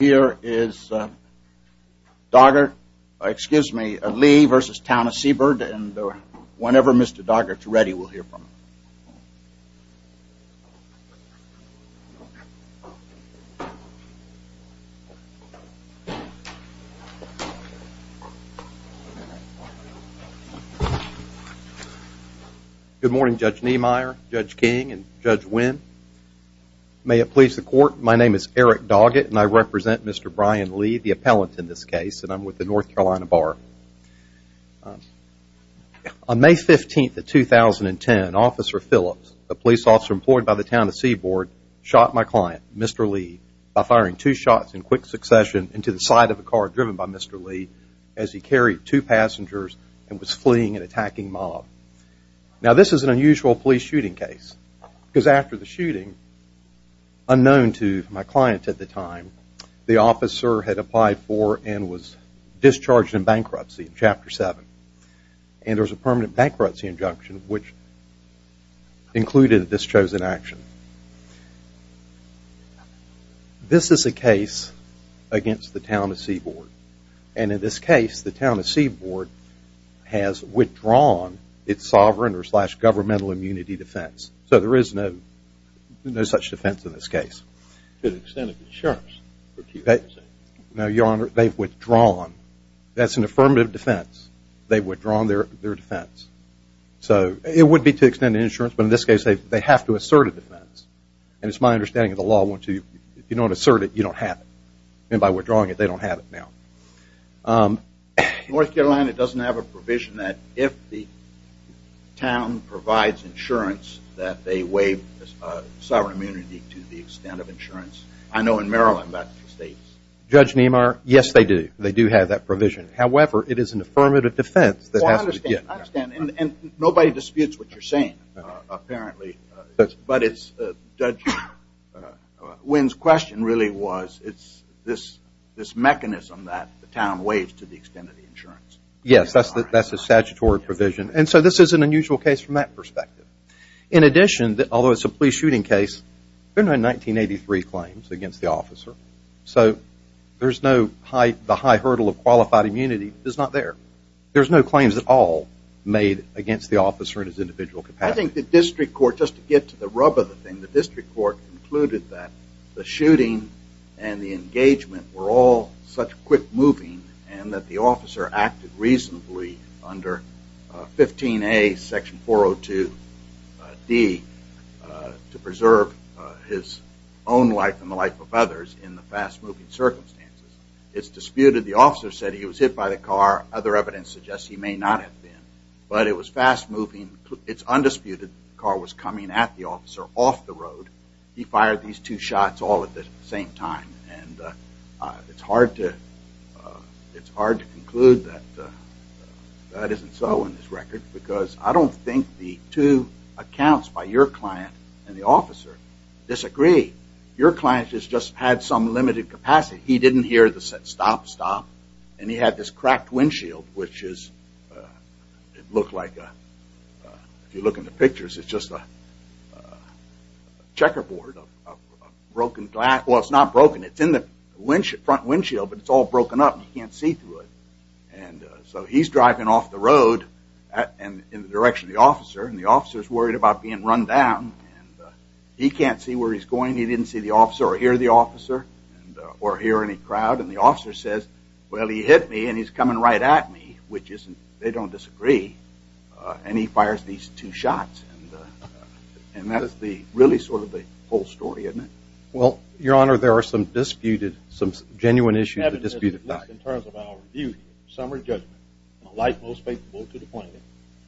Here is Lee v. Town of Seaboard and whenever Mr. Doggett is ready, we'll hear from him. Good morning, Judge Niemeyer, Judge King, and Judge Wynn. May it please the Court, my name is Eric Doggett and I represent Mr. Brian Lee, the appellant in this case, and I'm with the North Carolina Bar. On May 15, 2010, Officer Phillips, a police officer employed by the Town of Seaboard, shot my client, Mr. Lee, by firing two shots in quick succession into the side of a car driven by Mr. Lee as he carried two passengers and was fleeing an attacking mob. Now this is an unusual police shooting case because after the shooting, unknown to my client at the time, the officer had applied for and was discharged in bankruptcy in Chapter 7, and there was a permanent bankruptcy injunction which included this chosen action. This is a case against the Town of Seaboard, and in this case, the Town of Seaboard has withdrawn its sovereign or slash governmental immunity defense. So there is no such defense in this case. To the extent of insurance? No, Your Honor, they've withdrawn. That's an affirmative defense. They've withdrawn their defense. So it would be to extend the insurance, but in this case, they have to assert a defense. And it's my understanding of the law once you don't assert it, you don't have it. And by withdrawing it, they don't have it now. North Carolina doesn't have a provision that if the town provides insurance that they waive sovereign immunity to the extent of insurance. I know in Maryland that states. Judge Niemeyer, yes they do. They do have that provision. However, it is an affirmative defense that has to be given. I understand. And nobody disputes what you're saying, apparently. But Judge Wynn's question really was it's this mechanism that the town waives to the extent of the insurance. Yes, that's a statutory provision. And so this is an unusual case from that perspective. In addition, although it's a police shooting case, there have been 1983 claims against the officer. So there's no high hurdle of qualified immunity. It's not there. There's no claims at all made against the officer in his individual capacity. I think the district court, just to get to the rub of the thing, the district court concluded that the shooting and the engagement were all such quick moving and that the officer acted reasonably under 15A section 402D to preserve his own life and the life of others in the fast-moving circumstances. It's disputed the officer said he was hit by the car. Other evidence suggests he may not have been. But it was fast-moving. It's undisputed the car was coming at the officer off the road. He fired these two shots all at the same time. And it's hard to conclude that that isn't so in this record because I don't think the two accounts by your client and the officer disagree. Your client just had some limited capacity. He didn't hear the stop, stop. And he had this cracked windshield which looked like, if you look in the pictures, it's just a checkerboard. Well, it's not broken. It's in the front windshield but it's all broken up and you can't see through it. So he's driving off the road in the direction of the officer and the officer is worried about being run down. He can't see where he's going. He didn't see the officer or hear the officer or hear any crowd. And the officer says, well, he hit me and he's coming right at me, which they don't disagree. And he fires these two shots. And that is really sort of the whole story, isn't it? Well, your honor, there are some disputed, some genuine issues that are disputed. In terms of our review, summary judgment, the light most favorable to the plaintiff.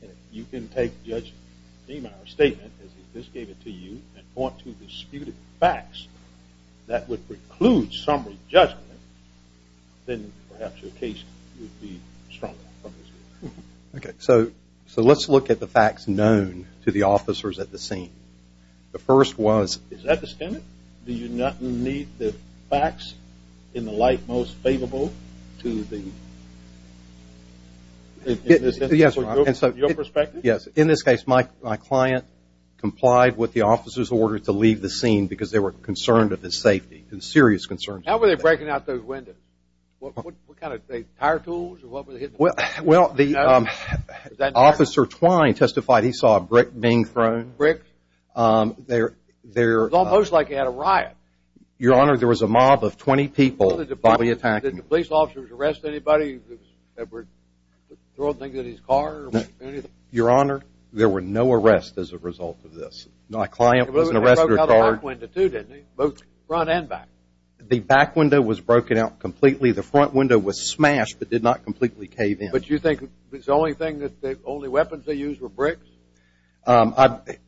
And if you can take Judge Demeyer's statement as he just gave it to you and point to disputed facts that would preclude summary judgment, then perhaps your case would be stronger. Okay, so let's look at the facts known to the officers at the scene. The first was... Is that the statement? Do you not need the facts in the light most favorable to the... Yes, your honor. In your perspective? Yes. In this case, my client complied with the officer's order to leave the scene because they were concerned of his safety, serious concerns. How were they breaking out those windows? What kind of, tire tools or what were they hitting? Well, the officer Twine testified he saw a brick being thrown. Bricks? They're... It was almost like he had a riot. Your honor, there was a mob of 20 people. Did the police officers arrest anybody that were throwing things at his car or anything? Your honor, there were no arrests as a result of this. My client was an arrest record. He broke out the back window too, didn't he? Both front and back. The back window was broken out completely. The front window was smashed but did not completely cave in. But you think it's the only thing that, the only weapons they used were bricks?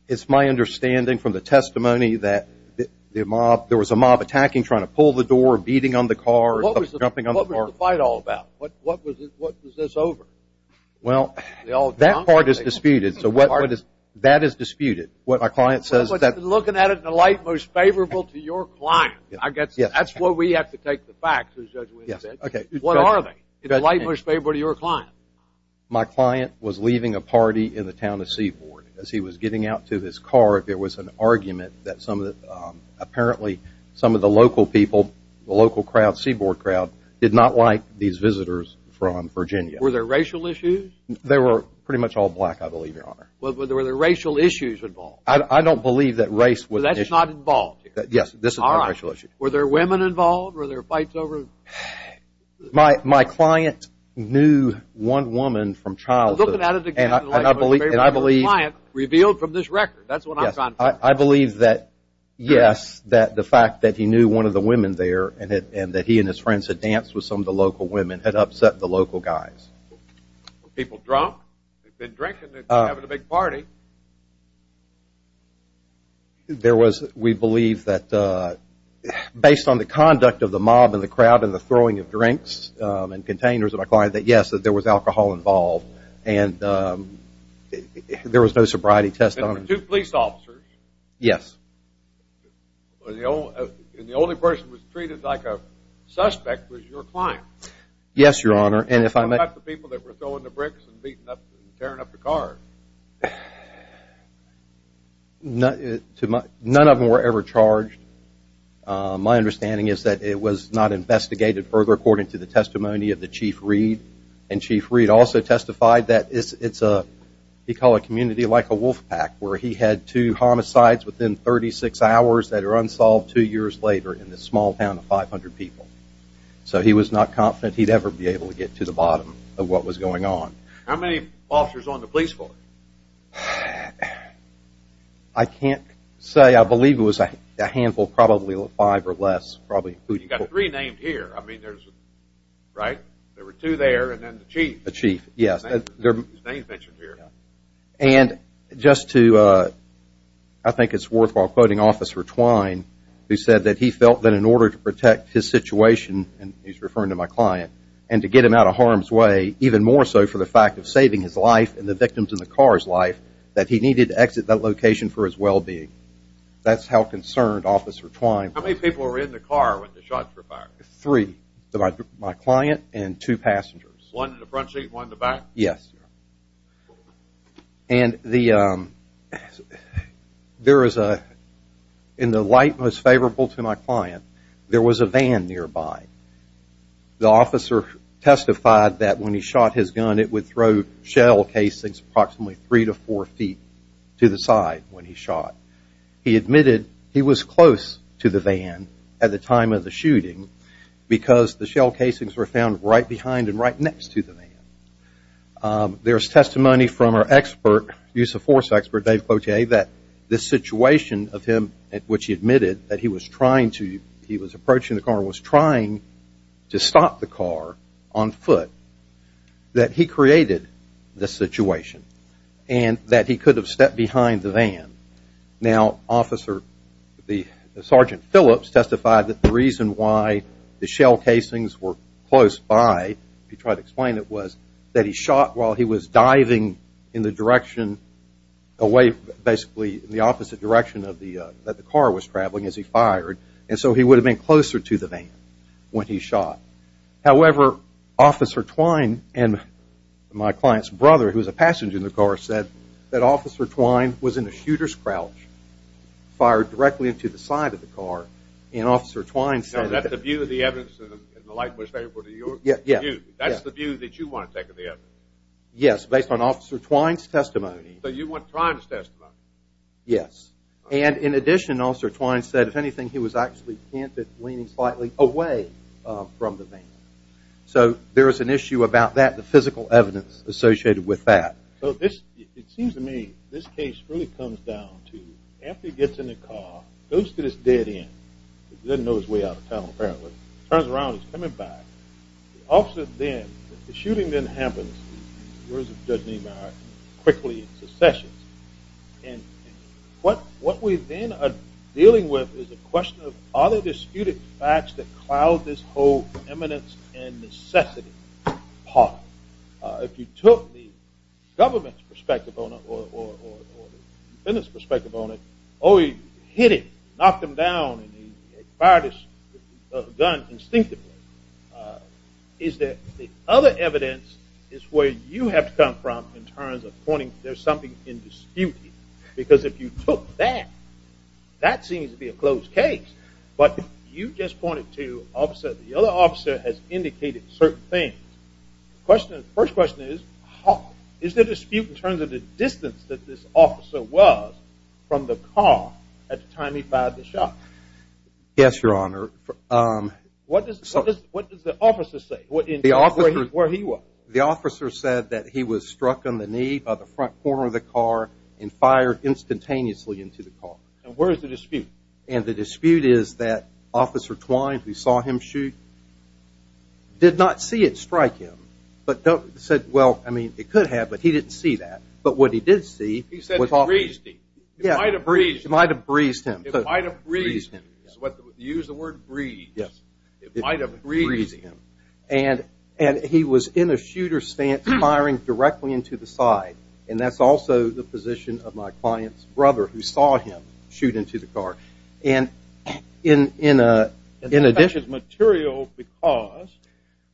It's my understanding from the testimony that there was a mob attacking, trying to pull the door, beating on the car, jumping on the car. What was the fight all about? What was this over? Well, that part is disputed. That is disputed. What my client says is that... Looking at it in a light most favorable to your client. I guess that's where we have to take the facts, as Judge Williams said. What are they? In a light most favorable to your client? My client was leaving a party in the town of Seaboard. As he was getting out to his car, there was an argument that some of the, apparently some of the local people, the local crowd, Seaboard crowd, did not like these visitors from Virginia. Were there racial issues? They were pretty much all black, I believe, your honor. Were there racial issues involved? I don't believe that race was... So that's not involved? Yes, this is not a racial issue. Were there women involved? Were there fights over... My client knew one woman from childhood, and I believe... Looking at it in a light most favorable to your client, revealed from this record. That's what I'm talking about. I believe that, yes, that the fact that he knew one of the women there and that he and his friends had danced with some of the local women had upset the local guys. Were people drunk? They'd been drinking, they were having a big party. There was, we believe, that based on the conduct of the mob and the crowd and the throwing of drinks and containers of a client, that, yes, that there was alcohol involved. And there was no sobriety test on... There were two police officers? Yes. And the only person who was treated like a suspect was your client? Yes, your honor, and if I may... What about the people that were throwing the bricks and beating up, tearing up the cars? None of them were ever charged. My understanding is that it was not investigated further according to the testimony of the Chief Reed, and Chief Reed also testified that it's a, he called it a community like a wolf pack where he had two homicides within 36 hours that are unsolved two years later in this small town of 500 people. So he was not confident he'd ever be able to get to the bottom of what was going on. How many officers on the police force? I can't say. I believe it was a handful, probably five or less, probably. You've got three named here. I mean, there's, right? There were two there and then the Chief. The Chief, yes. His name's mentioned here. And just to, I think it's worthwhile quoting Officer Twine, who said that he felt that in order to protect his situation, and he's referring to my client, and to get him out of harm's way, even more so for the fact of saving his life and the victims in the car's life, that he needed to exit that location for his well-being. That's how concerned Officer Twine was. How many people were in the car when the shots were fired? Three. My client and two passengers. One in the front seat and one in the back? Yes. And there is a, in the light most favorable to my client, there was a van nearby. The officer testified that when he shot his gun, it would throw shell casings approximately three to four feet to the side when he shot. He admitted he was close to the van at the time of the shooting because the shell casings were found right behind and right next to the van. There's testimony from our expert, use of force expert, Dave Cloutier, that this situation of him at which he admitted that he was trying to, he was approaching the car and was trying to stop the car on foot, that he created this situation and that he could have stepped behind the van. Now, Officer, Sergeant Phillips testified that the reason why the shell casings were close by, if you try to explain it, was that he shot while he was diving in the direction, away basically in the opposite direction that the car was traveling as he fired. And so he would have been closer to the van when he shot. However, Officer Twine and my client's brother, who was a passenger in the car, said that Officer Twine was in a shooter's crouch, fired directly into the side of the car, and Officer Twine said that... Now, is that the view of the evidence in the light most favorable to your view? Yes. That's the view that you want to take of the evidence? Yes, based on Officer Twine's testimony. So you want Twine's testimony? Yes. And in addition, Officer Twine said, if anything, he was actually hinted leaning slightly away from the van. So there is an issue about that, the physical evidence associated with that. So it seems to me this case really comes down to after he gets in the car, goes to this dead end, doesn't know his way out of town apparently, turns around and is coming back. The officer then, the shooting then happens, words of Judge Niemeyer, quickly in secession. And what we then are dealing with is a question of are there disputed facts that cloud this whole eminence and necessity part? If you took the government's perspective on it or the defendant's perspective on it, oh, he hit him, knocked him down, and he fired his gun instinctively, is there other evidence as to where you have to come from in terms of pointing there's something in dispute? Because if you took that, that seems to be a closed case. But you just pointed to the other officer has indicated certain things. The first question is, is there dispute in terms of the distance that this officer was from the car at the time he fired the shot? Yes, Your Honor. What does the officer say? Where he was. Well, the officer said that he was struck in the knee by the front corner of the car and fired instantaneously into the car. And where is the dispute? And the dispute is that Officer Twine, who saw him shoot, did not see it strike him, but said, well, I mean, it could have, but he didn't see that. But what he did see was... He said it breezed him. It might have breezed him. It might have breezed him. Use the word breezed. It might have breezed him. It might have breezed him. And he was in a shooter's stance, firing directly into the side. And that's also the position of my client's brother, who saw him shoot into the car. And in addition... That's material because...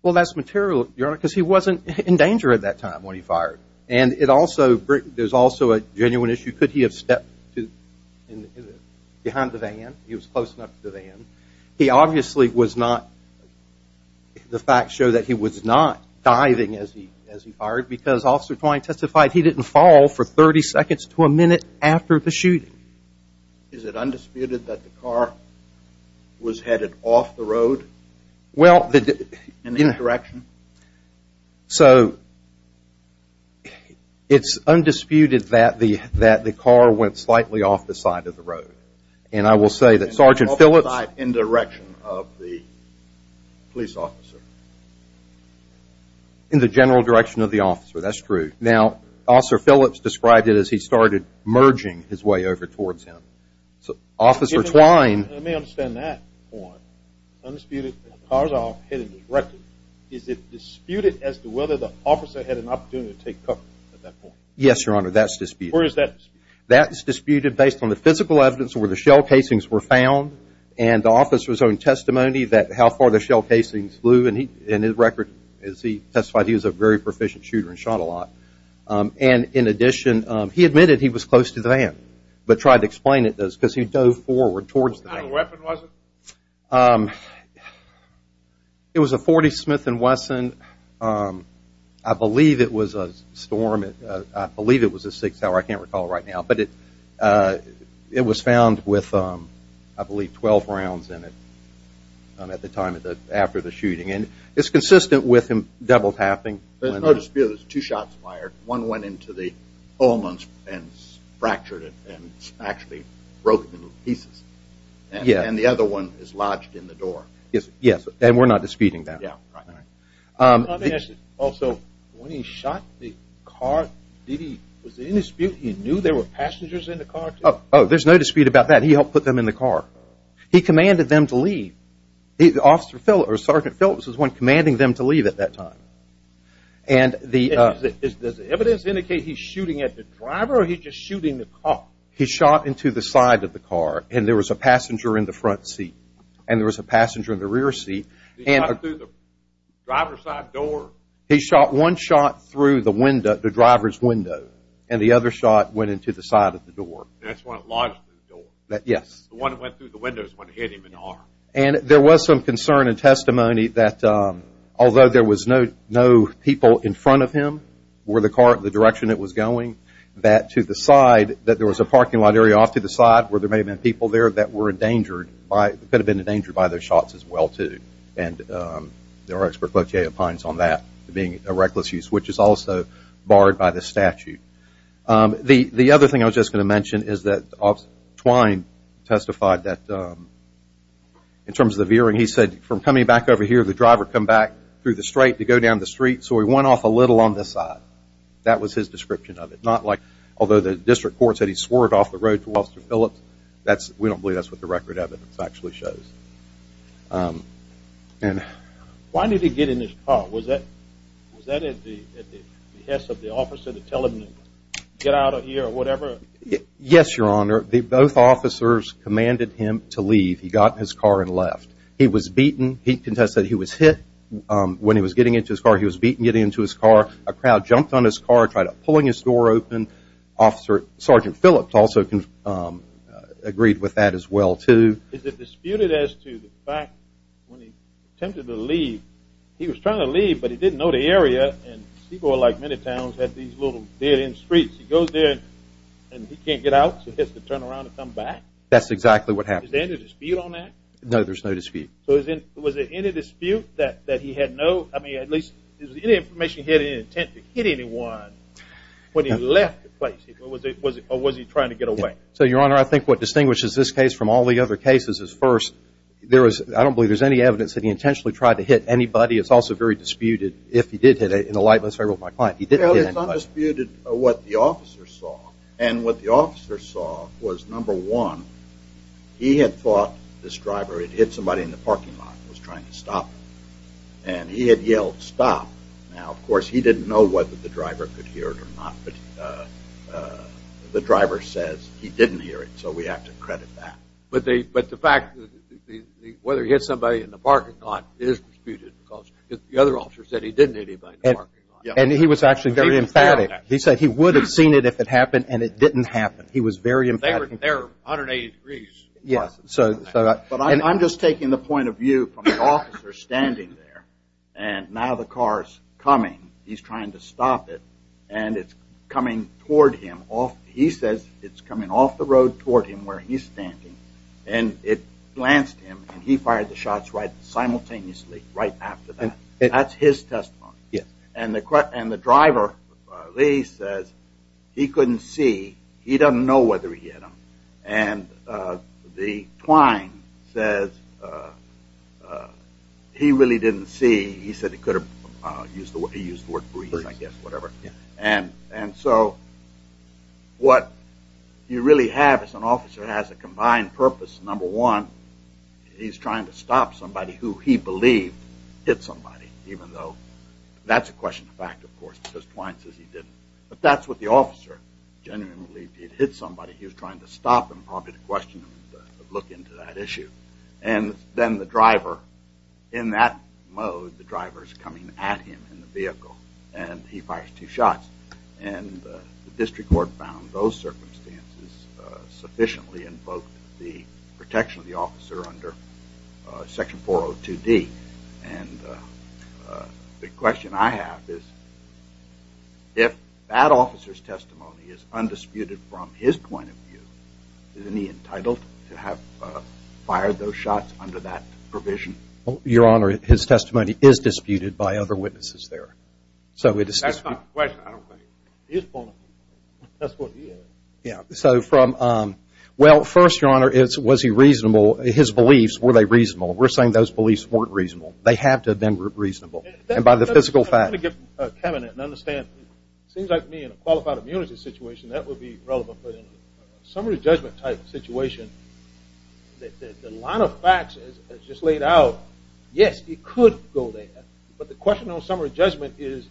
Well, that's material, Your Honor, because he wasn't in danger at that time when he fired. And it also, there's also a genuine issue. Could he have stepped behind the van? He was close enough to the van. He obviously was not... The facts show that he was not diving as he fired because Officer Twine testified he didn't fall for 30 seconds to a minute after the shooting. Is it undisputed that the car was headed off the road in that direction? So, it's undisputed that the car went slightly off the side of the road. And I will say that Sergeant Phillips... In the direction of the police officer. In the general direction of the officer, that's true. Now, Officer Phillips described it as he started merging his way over towards him. So, Officer Twine... I may understand that point. Undisputed that the car was headed directly. Is it disputed as to whether the officer had an opportunity to take cover at that point? Yes, Your Honor, that's disputed. Where is that disputed? That's disputed based on the physical evidence where the shell casings were found and the officer's own testimony that how far the shell casings flew. And in his record, as he testified, he was a very proficient shooter and shot a lot. And in addition, he admitted he was close to the van but tried to explain it because he dove forward towards the van. What kind of weapon was it? It was a .40 Smith & Wesson. I believe it was a Storm. I believe it was a 6-hour. I can't recall right now. But it was found with, I believe, 12 rounds in it at the time after the shooting. And it's consistent with him double-tapping. There's no dispute. There's two shots fired. One went into the pulmons and fractured it and actually broke into pieces. And the other one is lodged in the door. Yes, and we're not disputing that. Also, when he shot the car, was there any dispute? He knew there were passengers in the car? Oh, there's no dispute about that. He helped put them in the car. He commanded them to leave. Sergeant Phillips was the one commanding them to leave at that time. Does the evidence indicate he's shooting at the driver or he's just shooting the car? He shot into the side of the car, and there was a passenger in the front seat and there was a passenger in the rear seat. He shot through the driver's side door? He shot one shot through the driver's window, and the other shot went into the side of the door. And that's when it lodged in the door? Yes. The one that went through the window is the one that hit him in the arm. And there was some concern and testimony that although there was no people in front of him or the direction it was going, that to the side, that there was a parking lot area off to the side where there may have been people there that were endangered, could have been endangered by those shots as well, too. And there are experts like J.A. Pines on that being a reckless use, which is also barred by the statute. The other thing I was just going to mention is that Twine testified that in terms of the veering, he said from coming back over here, the driver had come back through the straight to go down the street, so he went off a little on this side. That was his description of it. Although the district court said he swore it off the road to Officer Phillips, we don't believe that's what the record evidence actually shows. Why did he get in his car? Was that at the behest of the officer to tell him to get out of here or whatever? Yes, Your Honor. Both officers commanded him to leave. He got in his car and left. He was beaten. He contested he was hit when he was getting into his car. He was beaten getting into his car. A crowd jumped on his car, tried pulling his door open. Officer Sergeant Phillips also agreed with that as well, too. Is it disputed as to the fact when he attempted to leave, he was trying to leave, but he didn't know the area and Seaboard, like many towns, had these little dead-end streets. He goes there and he can't get out, so he has to turn around and come back? That's exactly what happened. Is there any dispute on that? No, there's no dispute. So was there any dispute that he had no, I mean at least, if there was any information he had any intent to hit anyone when he left the place? Or was he trying to get away? So, Your Honor, I think what distinguishes this case from all the other cases is first, I don't believe there's any evidence that he intentionally tried to hit anybody. It's also very disputed if he did hit anybody. In the lightness of my mind, he didn't hit anybody. Well, it's undisputed what the officer saw, and what the officer saw was, number one, he had thought this driver had hit somebody in the parking lot and was trying to stop him, and he had yelled, stop. Now, of course, he didn't know whether the driver could hear it or not, but the driver says he didn't hear it, so we have to credit that. But the fact that whether he hit somebody in the parking lot is disputed because the other officer said he didn't hit anybody in the parking lot. And he was actually very emphatic. He said he would have seen it if it happened, and it didn't happen. He was very emphatic. They were there 180 degrees. But I'm just taking the point of view from the officer standing there, and now the car is coming. He's trying to stop it, and it's coming toward him. He says it's coming off the road toward him where he's standing, and it glanced him, and he fired the shots simultaneously right after that. That's his testimony. And the driver, Lee, says he couldn't see. He doesn't know whether he hit him. And the twine says he really didn't see. He said he could have used the word breeze, I guess, whatever. And so what you really have is an officer has a combined purpose. Number one, he's trying to stop somebody who he believed hit somebody, even though that's a question of fact, of course, because twine says he didn't. But that's what the officer genuinely believed. If he'd hit somebody, he was trying to stop them, probably to question them, to look into that issue. And then the driver, in that mode, the driver is coming at him in the vehicle, and he fires two shots. And the district court found those circumstances sufficiently invoked the protection of the officer under Section 402D. And the question I have is, if that officer's testimony is undisputed from his point of view, isn't he entitled to have fired those shots under that provision? Your Honor, his testimony is disputed by other witnesses there. That's not a question. I don't question it. It is a point of view. That's what it is. Well, first, Your Honor, was he reasonable? His beliefs, were they reasonable? We're saying those beliefs weren't reasonable. They have to have been reasonable. And by the physical facts. I want to give Kevin an understanding. It seems like to me, in a qualified immunity situation, that would be relevant. But in a summary judgment type situation, the line of facts is just laid out. Yes, it could go there. But the question on summary judgment is,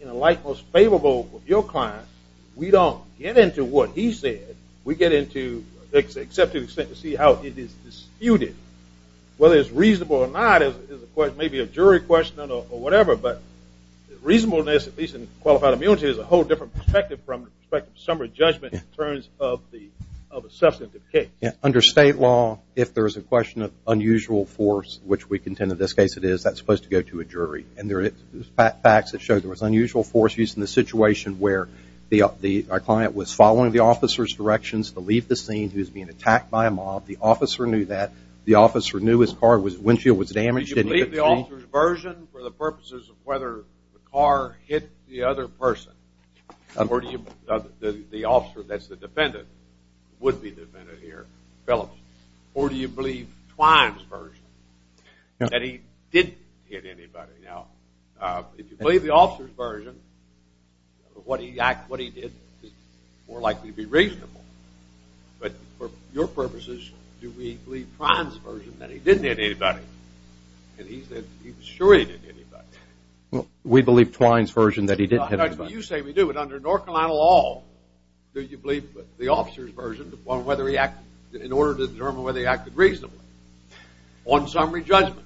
in a light most favorable of your class, we don't get into what he said. We get into, except to the extent to see how it is disputed, whether it's reasonable or not is a question, maybe a jury question or whatever. But reasonableness, at least in qualified immunity, is a whole different perspective from the perspective of summary judgment in terms of a substantive case. Under state law, if there's a question of unusual force, which we contend in this case it is, that's supposed to go to a jury. And there are facts that show there was unusual force used in the situation where our client was following the officer's directions to leave the scene. He was being attacked by a mob. The officer knew that. The officer knew his car windshield was damaged. Did you believe the officer's version for the purposes of whether the car hit the other person? Or do you believe the officer that's the defendant would be the defendant here, Phillips? Or do you believe Twine's version, that he didn't hit anybody? Now, if you believe the officer's version, what he did is more likely to be reasonable. But for your purposes, do we believe Twine's version that he didn't hit anybody? And he said he was sure he didn't hit anybody. We believe Twine's version that he didn't hit anybody. You say we do, but under North Carolina law, do you believe the officer's version in order to determine whether he acted reasonably on summary judgment?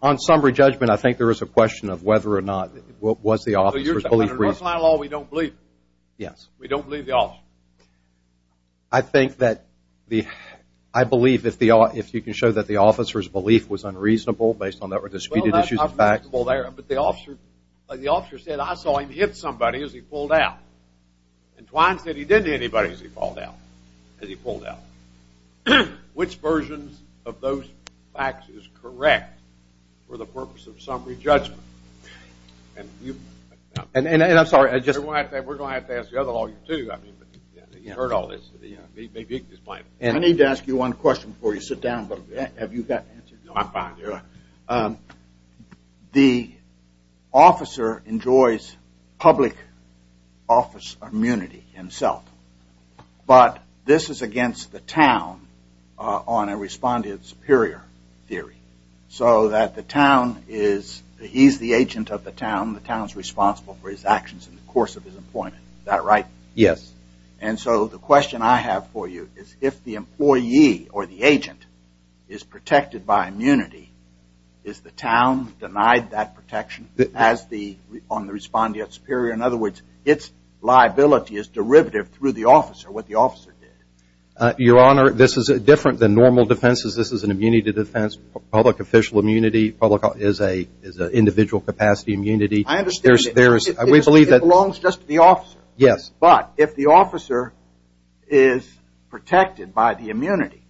On summary judgment, I think there is a question of whether or not, was the officer's belief reasonable? Under North Carolina law, we don't believe. Yes. We don't believe the officer. I think that the, I believe if you can show that the officer's belief was unreasonable based on there were disputed issues and facts. But the officer said, I saw him hit somebody as he pulled out. And Twine said he didn't hit anybody as he pulled out. Which version of those facts is correct for the purpose of summary judgment? And I'm sorry. We're going to have to ask the other lawyer, too. I mean, he heard all this. I need to ask you one question before you sit down. Have you got an answer? No, I'm fine. The officer enjoys public office immunity himself. But this is against the town on a respondent superior theory. So that the town is, he's the agent of the town. The town is responsible for his actions in the course of his employment. Is that right? Yes. And so the question I have for you is if the employee or the agent is protected by immunity, is the town denied that protection as the, on the respondent superior? In other words, its liability is derivative through the officer, what the officer did. Your Honor, this is different than normal defenses. This is an immunity defense. Public official immunity is an individual capacity immunity. I understand. We believe that. It belongs just to the officer. Yes. But if the officer is protected by the immunity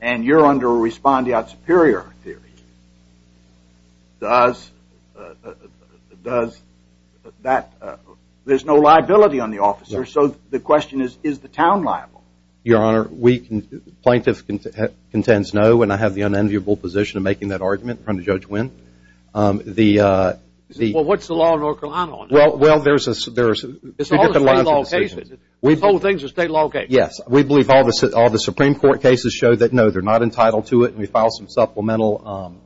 and you're under a respondent superior theory, does that, there's no liability on the officer. So the question is, is the town liable? Your Honor, plaintiff contends no. And I have the unenviable position of making that argument in front of Judge Wynn. Well, what's the law in North Carolina on that? Well, there are three different lines of decision. It's all the state law cases. The whole thing's a state law case. Yes. We believe all the Supreme Court cases show that, no, they're not entitled to it. And we file some supplemental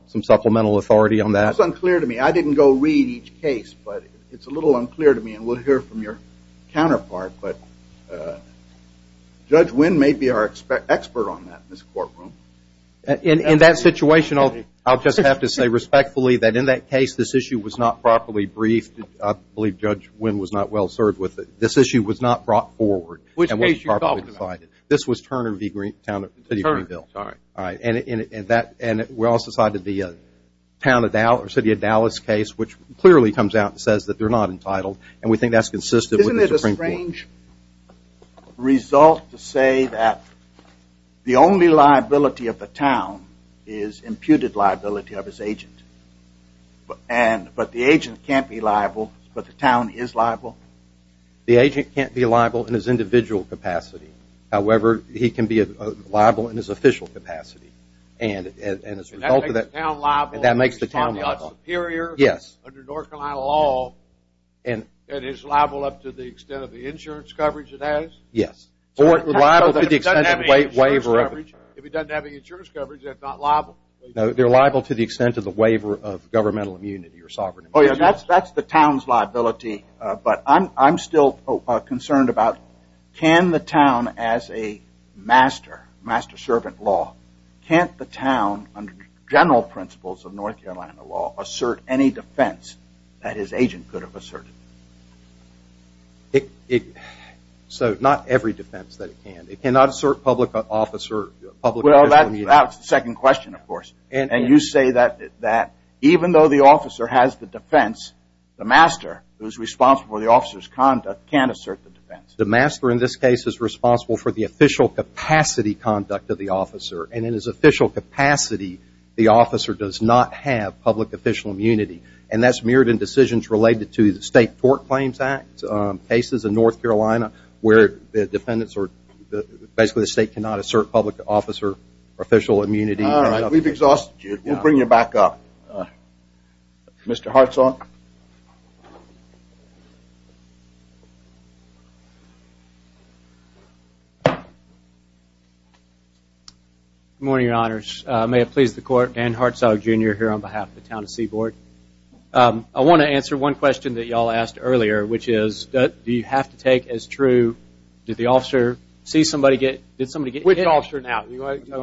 authority on that. That's unclear to me. I didn't go read each case, but it's a little unclear to me. And we'll hear from your counterpart. But Judge Wynn may be our expert on that in this courtroom. In that situation, I'll just have to say respectfully that in that case, this issue was not properly briefed. I believe Judge Wynn was not well served with it. This issue was not brought forward. Which case are you talking about? This was Turner v. Greenville. All right. And we also cited the City of Dallas case, which clearly comes out and says that they're not entitled, and we think that's consistent with the Supreme Court. Isn't it a strange result to say that the only liability of the town is imputed liability of its agent, but the agent can't be liable, but the town is liable? The agent can't be liable in his individual capacity. However, he can be liable in his official capacity. And as a result of that, that makes the town liable. And that makes the town liable. He's superior under North Carolina law, and is liable up to the extent of the insurance coverage it has? Yes. Or liable to the extent of waiver of it. If he doesn't have any insurance coverage, they're not liable. No, they're liable to the extent of the waiver of governmental immunity or sovereign immunity. Oh, yeah, that's the town's liability. But I'm still concerned about can the town, as a master, master-servant law, can't the town, under general principles of North Carolina law, assert any defense that his agent could have asserted? So not every defense that it can. It cannot assert public official immunity. Well, that's the second question, of course. And you say that even though the officer has the defense, the master, who's responsible for the officer's conduct, can't assert the defense. The master, in this case, is responsible for the official capacity conduct of the officer. And in his official capacity, the officer does not have public official immunity. And that's mirrored in decisions related to the State Tort Claims Act cases in North Carolina, where the defendants are basically the state cannot assert public officer official immunity. All right, we've exhausted you. We'll bring you back up. Mr. Hartzog? Good morning, Your Honors. May it please the Court, Dan Hartzog, Jr., here on behalf of the town of Seaboard. I want to answer one question that you all asked earlier, which is, do you have to take as true, did the officer see somebody get hit? Which officer now?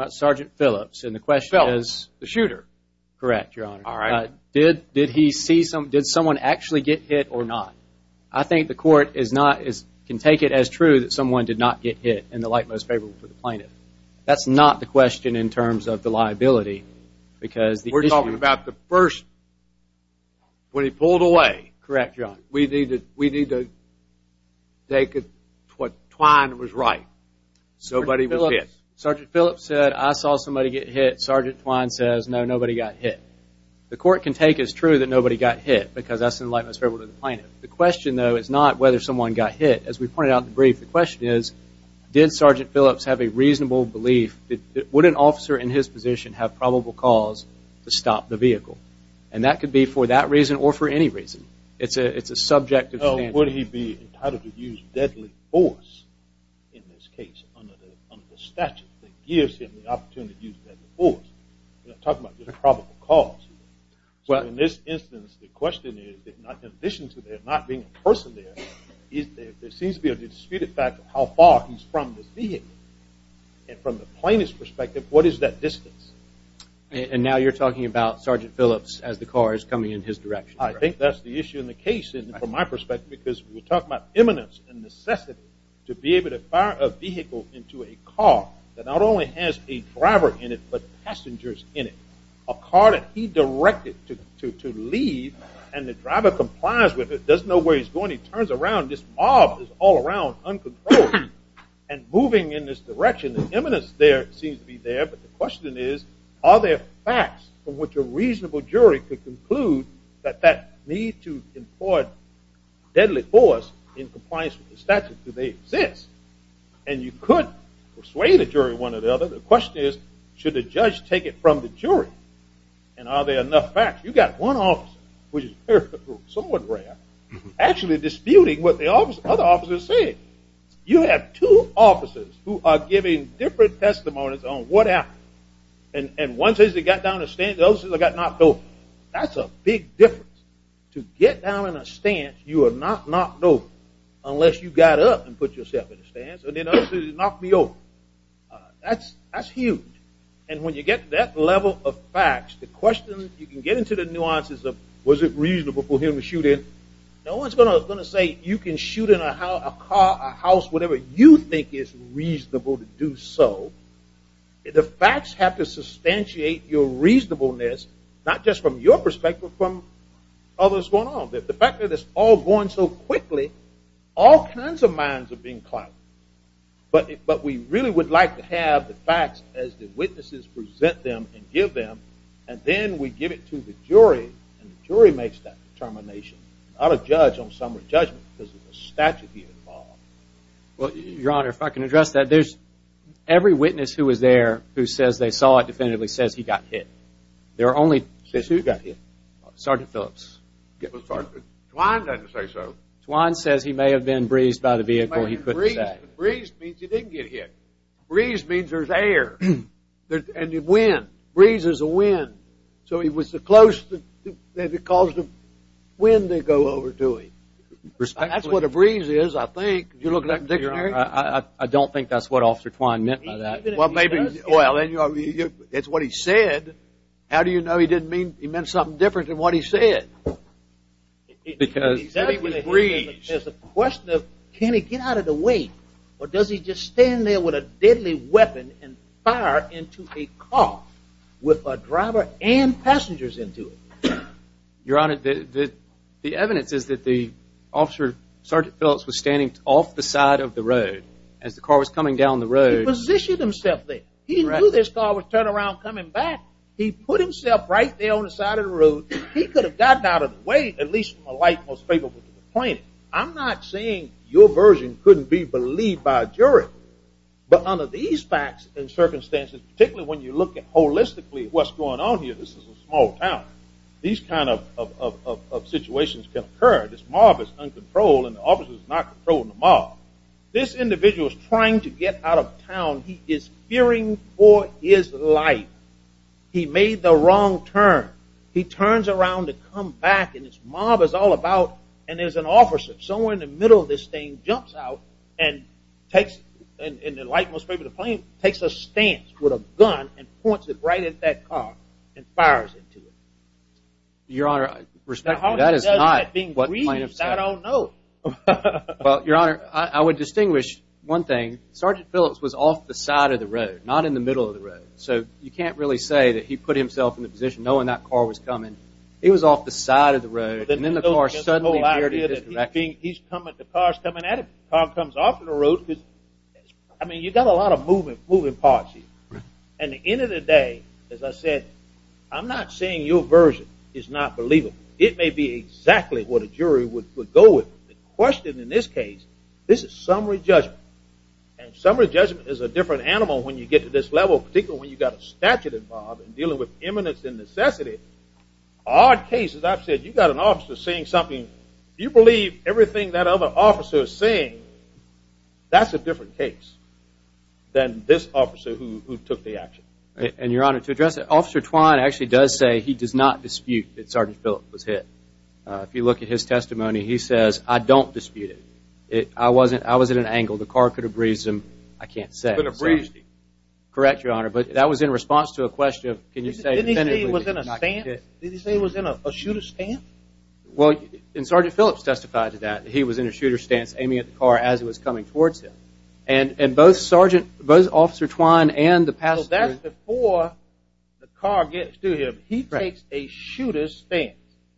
Sergeant Phillips. Phillips, the shooter? Correct, Your Honor. All right. Did someone actually get hit or not? I think the Court can take it as true that someone did not get hit, and the like most favorable for the plaintiff. That's not the question in terms of the liability. We're talking about the person when he pulled away. Correct, Your Honor. We need to take what Twine was right. Nobody was hit. Sergeant Phillips said, I saw somebody get hit. Sergeant Twine says, no, nobody got hit. The Court can take as true that nobody got hit because that's in the like most favorable to the plaintiff. The question, though, is not whether someone got hit. As we pointed out in the brief, the question is, did Sergeant Phillips have a reasonable belief? Would an officer in his position have probable cause to stop the vehicle? And that could be for that reason or for any reason. It's a subjective stance. Would he be entitled to use deadly force in this case under the statute that gives him the opportunity to use deadly force? We're not talking about just a probable cause here. So in this instance, the question is, in addition to there not being a person there, there seems to be a disputed fact of how far he's from this vehicle. And from the plaintiff's perspective, what is that distance? And now you're talking about Sergeant Phillips as the car is coming in his direction. I think that's the issue in the case from my perspective because we're talking about eminence and necessity to be able to fire a vehicle into a car that not only has a driver in it but passengers in it, a car that he directed to leave and the driver complies with it, doesn't know where he's going, he turns around, this mob is all around uncontrolled and moving in this direction. The eminence there seems to be there, but the question is, are there facts from which a reasonable jury could conclude that that need to employ deadly force in compliance with the statute, do they exist? And you could persuade the jury one or the other. The question is, should the judge take it from the jury? And are there enough facts? You've got one officer, which is somewhat rare, actually disputing what the other officers said. You have two officers who are giving different testimonies on what happened. And one says he got down in a stance, the other says he got knocked over. That's a big difference. To get down in a stance, you are not knocked over unless you got up and put yourself in a stance. And the other says he knocked me over. That's huge. And when you get to that level of facts, the question, you can get into the nuances of was it reasonable for him to shoot in. No one's going to say you can shoot in a car, a house, whatever you think is reasonable to do so. The facts have to substantiate your reasonableness, not just from your perspective, but from others going on. The fact that it's all going so quickly, all kinds of minds are being clouded. But we really would like to have the facts as the witnesses present them and give them, and then we give it to the jury, and the jury makes that determination, not a judge on someone's judgment because of the statute he involved. Your Honor, if I can address that, every witness who was there who says they saw it definitively says he got hit. Says who got hit? Sergeant Phillips. Twine doesn't say so. Twine says he may have been breezed by the vehicle, he couldn't say. Breezed means he didn't get hit. Breezed means there's air, and wind. Breeze is a wind. So he was so close that it caused the wind to go over to him. Respectfully. That's what a breeze is, I think. I don't think that's what Officer Twine meant by that. Well, it's what he said. How do you know he meant something different than what he said? Because he was breezed. There's a question of can he get out of the way, or does he just stand there with a deadly weapon and fire into a car with a driver and passengers into it? Your Honor, the evidence is that the officer, Sergeant Phillips, was standing off the side of the road as the car was coming down the road. He positioned himself there. He knew this car was turning around and coming back. He put himself right there on the side of the road. He could have gotten out of the way, at least from a light most favorable to the plane. I'm not saying your version couldn't be believed by a jury, but under these facts and circumstances, particularly when you look at holistically what's going on here, this is a small town. These kind of situations can occur. This mob is uncontrolled, and the officer is not controlling the mob. This individual is trying to get out of town. He is fearing for his life. He made the wrong turn. He turns around to come back, and this mob is all about, and there's an officer. Somewhere in the middle of this thing jumps out and takes, in the light most favorable to the plane, takes a stance with a gun and points it right at that car and fires into it. Your Honor, respectfully, that is not what plaintiff said. I don't know. Your Honor, I would distinguish one thing. Sergeant Phillips was off the side of the road, not in the middle of the road, so you can't really say that he put himself in the position knowing that car was coming. He was off the side of the road, and then the car suddenly veered in his direction. The car is coming at him. The car comes off the road. I mean, you've got a lot of moving parts here. At the end of the day, as I said, I'm not saying your version is not believable. It may be exactly what a jury would go with. The question in this case, this is summary judgment, and summary judgment is a different animal when you get to this level, particularly when you've got a statute involved in dealing with imminence and necessity. Odd cases, I've said, you've got an officer saying something, you believe everything that other officer is saying, that's a different case than this officer who took the action. And, Your Honor, to address that, Officer Twine actually does say he does not dispute that Sergeant Phillips was hit. If you look at his testimony, he says, I don't dispute it. I was at an angle. The car could have breezed him. I can't say. It could have breezed him. Correct, Your Honor, but that was in response to a question of, can you say, did he say he was in a shooter's stance? Well, and Sergeant Phillips testified to that. He was in a shooter's stance aiming at the car as it was coming towards him. And both Officer Twine and the passenger – Well, that's before the car gets to him. He takes a shooter's stance.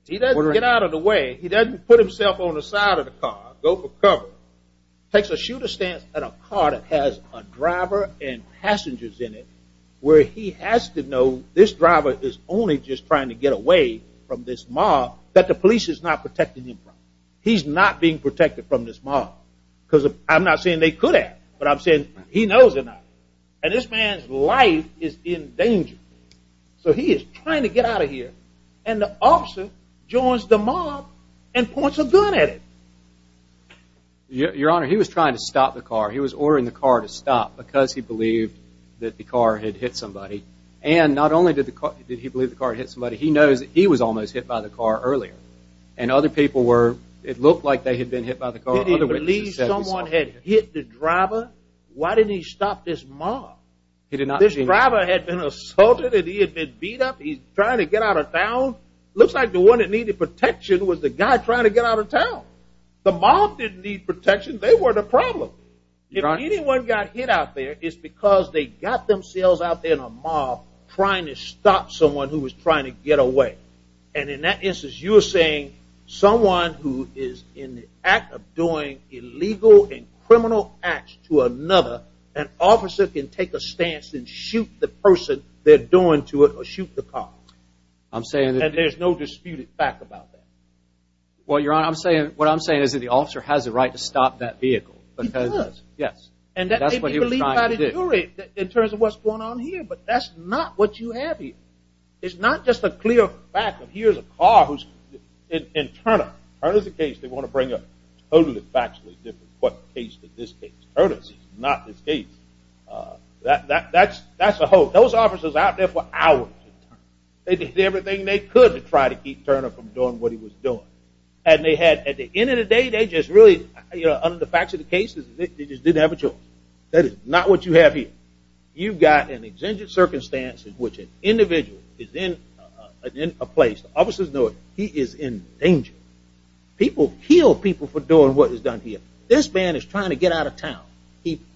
He doesn't get out of the way. He doesn't put himself on the side of the car, go for cover. Takes a shooter's stance at a car that has a driver and passengers in it where he has to know this driver is only just trying to get away from this mob that the police is not protecting him from. He's not being protected from this mob because I'm not saying they could have, but I'm saying he knows enough. And this man's life is in danger. So he is trying to get out of here, and the officer joins the mob and points a gun at him. Your Honor, he was trying to stop the car. He was ordering the car to stop because he believed that the car had hit somebody. And not only did he believe the car had hit somebody, he knows that he was almost hit by the car earlier. And other people were – it looked like they had been hit by the car. Did he believe someone had hit the driver? Why didn't he stop this mob? This driver had been assaulted and he had been beat up. He's trying to get out of town. Looks like the one that needed protection was the guy trying to get out of town. The mob didn't need protection. They were the problem. If anyone got hit out there, it's because they got themselves out there in a mob trying to stop someone who was trying to get away. And in that instance, you're saying someone who is in the act of doing illegal and criminal acts to another, an officer can take a stance and shoot the person they're doing to it or shoot the car. And there's no disputed fact about that. Well, Your Honor, what I'm saying is that the officer has a right to stop that vehicle. He does. Yes. And that's what he was trying to do. And that's what he was trying to do in terms of what's going on here. But that's not what you have here. It's not just a clear fact that here's a car who's – and Turner, Turner's the case they want to bring up. It's totally factually different what the case to this case. Turner's is not this case. That's a whole – those officers out there for hours. They did everything they could to try to keep Turner from doing what he was doing. And they had – at the end of the day, they just really – under the facts of the case, they just didn't have a choice. That is not what you have here. You've got an exigent circumstance in which an individual is in a place. Officers know it. He is in danger. People kill people for doing what is done here. This man is trying to get out of town.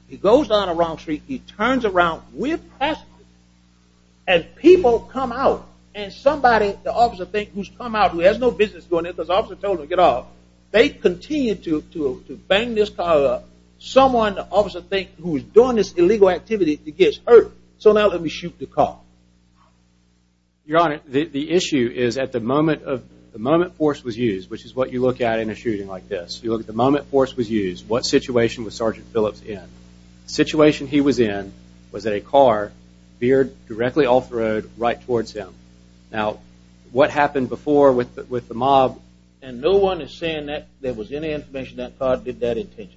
He goes down a wrong street. He turns around. We're passing him. And people come out. And somebody, the officer thinks who's come out, who has no business going there because the officer told him to get off, they continue to bang this car up. Someone, the officer thinks, who is doing this illegal activity gets hurt. So now let me shoot the car. Your Honor, the issue is at the moment force was used, which is what you look at in a shooting like this, you look at the moment force was used, what situation was Sergeant Phillips in. The situation he was in was that a car veered directly off the road right towards him. Now, what happened before with the mob? And no one is saying that there was any information that car did that intentionally.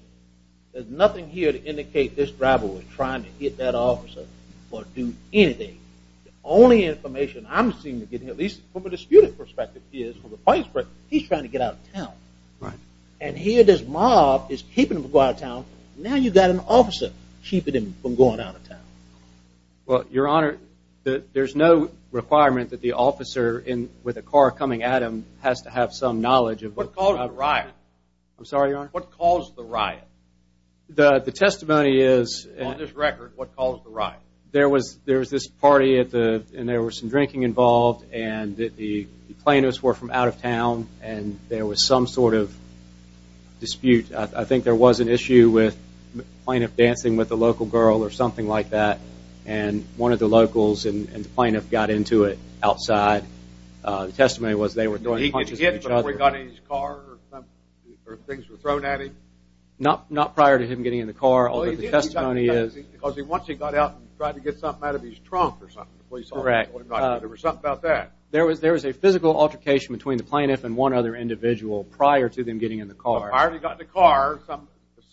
There's nothing here to indicate this driver was trying to hit that officer or do anything. The only information I'm seeing, at least from a disputant perspective, is from the vice president, he's trying to get out of town. And here this mob is keeping him from going out of town. Now you've got an officer keeping him from going out of town. Well, Your Honor, there's no requirement that the officer with a car coming at him has to have some knowledge of what caused the riot. I'm sorry, Your Honor? What caused the riot? The testimony is... On this record, what caused the riot? There was this party and there was some drinking involved and the plaintiffs were from out of town and there was some sort of dispute. I think there was an issue with a plaintiff dancing with a local girl or something like that and one of the locals and the plaintiff got into it outside. The testimony was they were throwing punches at each other. He was hit before he got in his car or things were thrown at him? Not prior to him getting in the car, although the testimony is... Because once he got out, he tried to get something out of his trunk or something. Correct. There was something about that. There was a physical altercation between the plaintiff and one other individual prior to them getting in the car. Prior to him getting in the car,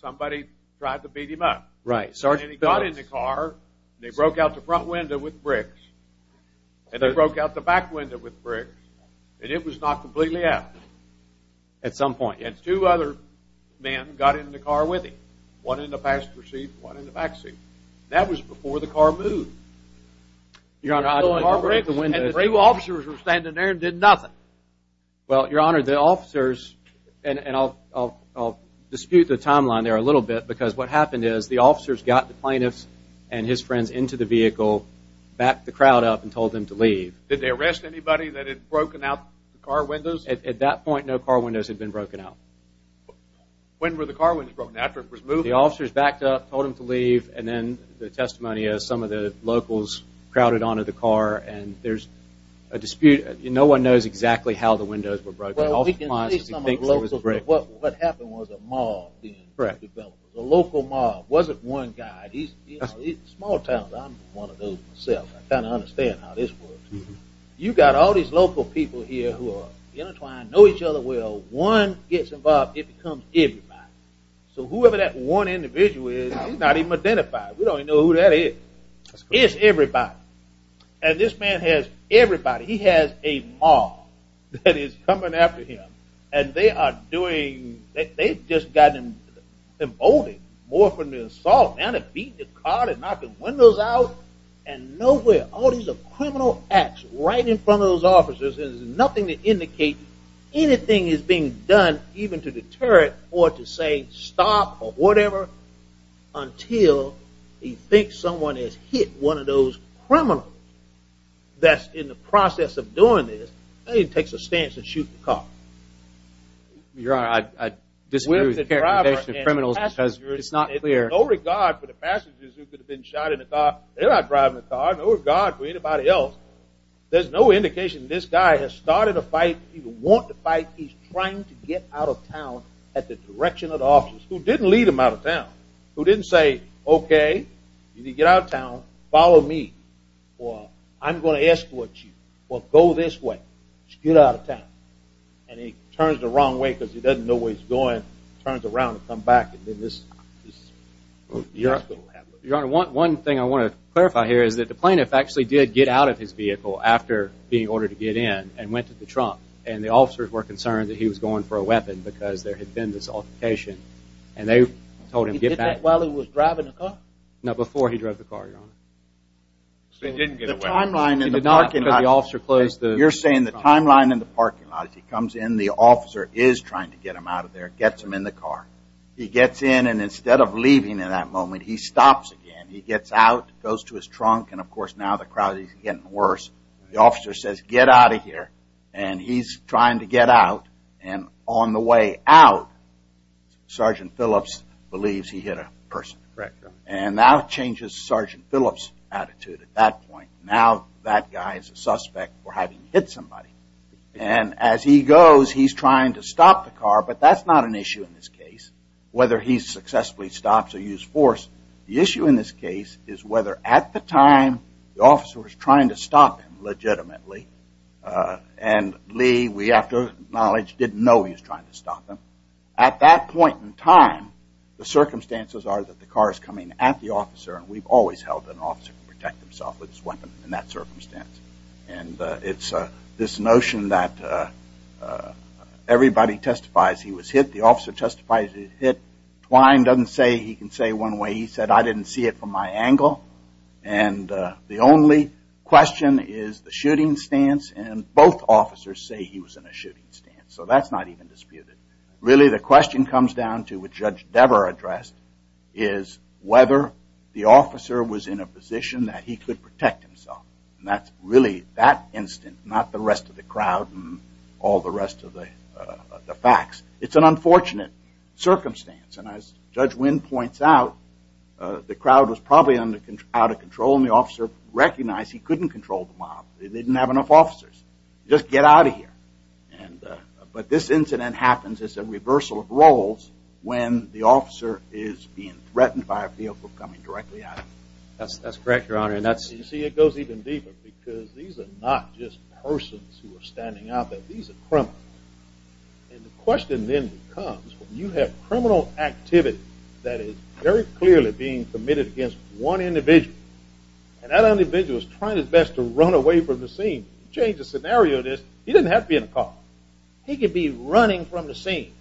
somebody tried to beat him up. And he got in the car and they broke out the front window with bricks and they broke out the back window with bricks and it was knocked completely out. At some point. And two other men got in the car with him. One in the passenger seat and one in the back seat. That was before the car moved. And the two officers were standing there and did nothing. Well, Your Honor, the officers, and I'll dispute the timeline there a little bit because what happened is the officers got the plaintiffs and his friends into the vehicle, backed the crowd up, and told them to leave. Did they arrest anybody that had broken out the car windows? At that point, no car windows had been broken out. When were the car windows broken out? The officers backed up, told them to leave, and then the testimony is some of the locals crowded onto the car and there's a dispute. No one knows exactly how the windows were broken. Well, we can see some of the locals. What happened was a mob. Correct. A local mob. It wasn't one guy. Small towns, I'm one of those myself. I kind of understand how this works. You've got all these local people here who are intertwined, know each other well. One gets involved, it becomes everybody. So whoever that one individual is, he's not even identified. We don't even know who that is. It's everybody. And this man has everybody. He has a mob that is coming after him, and they've just gotten emboldened more from the assault. Beat the car and knocked the windows out. And nowhere, all these criminal acts right in front of those officers, there's nothing to indicate anything is being done even to deter it or to say stop or whatever until you think someone has hit one of those criminals that's in the process of doing this. Now he takes a stance and shoots the car. Your Honor, I disagree with the characterization of criminals because it's not clear. No regard for the passengers who could have been shot in the car. They're not driving the car. No regard for anybody else. There's no indication this guy has started a fight. He would want to fight. He's trying to get out of town at the direction of the officers who didn't lead him out of town, who didn't say, okay, you need to get out of town, follow me, or I'm going to escort you. Well, go this way. Just get out of town. And he turns the wrong way because he doesn't know where he's going, turns around and comes back, and then this. Your Honor, one thing I want to clarify here is that the plaintiff actually did get out of his vehicle after being ordered to get in and went to the trunk, and the officers were concerned that he was going for a weapon because there had been this altercation. And they told him to get back. He did that while he was driving the car? No, before he drove the car, Your Honor. So he didn't get away. He did not because the officer closed the trunk. You're saying the timeline in the parking lot, he comes in, the officer is trying to get him out of there, gets him in the car. He gets in, and instead of leaving in that moment, he stops again. He gets out, goes to his trunk, and, of course, now the crowd is getting worse. The officer says, get out of here, and he's trying to get out, and on the way out, Sergeant Phillips believes he hit a person. Correct, Your Honor. And that changes Sergeant Phillips' attitude at that point. Now that guy is a suspect for having hit somebody. And as he goes, he's trying to stop the car, but that's not an issue in this case, whether he successfully stops or used force. The issue in this case is whether at the time the officer was trying to stop him legitimately, and Lee, we have to acknowledge, didn't know he was trying to stop him. At that point in time, the circumstances are that the car is coming at the officer, and we've always held that an officer can protect himself with his weapon in that circumstance. And it's this notion that everybody testifies he was hit. The officer testifies he was hit. Twine doesn't say he can say one way. He said, I didn't see it from my angle. And the only question is the shooting stance, and both officers say he was in a shooting stance. So that's not even disputed. Really, the question comes down to, which Judge Dever addressed, is whether the officer was in a position that he could protect himself. And that's really that instant, not the rest of the crowd and all the rest of the facts. It's an unfortunate circumstance. And as Judge Winn points out, the crowd was probably out of control, and the officer recognized he couldn't control the mob. They didn't have enough officers. Just get out of here. But this incident happens as a reversal of roles when the officer is being threatened by a vehicle coming directly at him. That's correct, Your Honor. You see, it goes even deeper, because these are not just persons who are standing out there. These are criminals. And the question then becomes, you have criminal activity that is very clearly being committed against one individual, and that individual is trying his best to run away from the scene. You change the scenario of this, he doesn't have to be in a car. He could be running from the scene,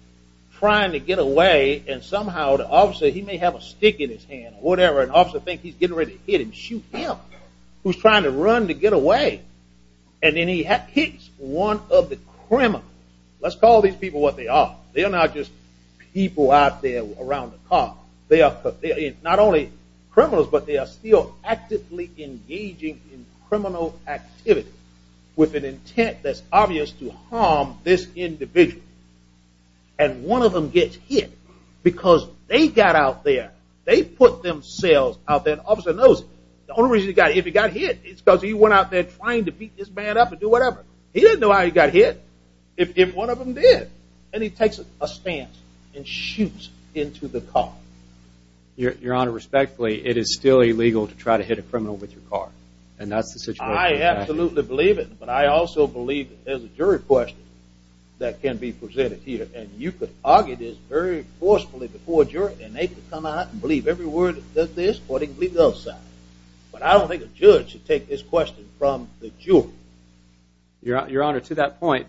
trying to get away, and somehow the officer, he may have a stick in his hand or whatever, and the officer thinks he's getting ready to hit and shoot him who's trying to run to get away. And then he hits one of the criminals. Let's call these people what they are. They are not just people out there around the car. They are not only criminals, but they are still actively engaging in criminal activity with an intent that's obvious to harm this individual. And one of them gets hit because they got out there. They put themselves out there. The officer knows it. The only reason he got hit is because he went out there trying to beat this man up and do whatever. He doesn't know how he got hit if one of them did. And he takes a stance and shoots into the car. Your Honor, respectfully, it is still illegal to try to hit a criminal with your car. And that's the situation. I absolutely believe it, but I also believe there's a jury question that can be presented here. And you could argue this very forcefully before a jury, and they could come out and believe every word of this or they could believe the other side. But I don't think a judge should take this question from the jury. Your Honor, to that point,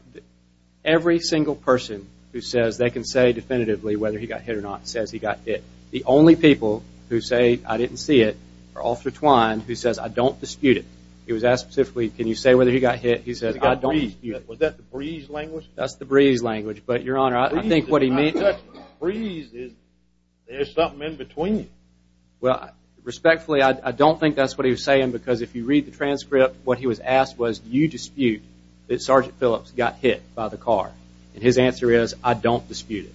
every single person who says they can say definitively whether he got hit or not says he got hit. The only people who say, I didn't see it, are Officer Twine, who says, I don't dispute it. He was asked specifically, can you say whether he got hit? He says, I don't dispute it. Was that the breeze language? That's the breeze language. But, Your Honor, I think what he means is there's something in between. Well, respectfully, I don't think that's what he was saying because if you read the transcript, what he was asked was, do you dispute that Sergeant Phillips got hit by the car? And his answer is, I don't dispute it.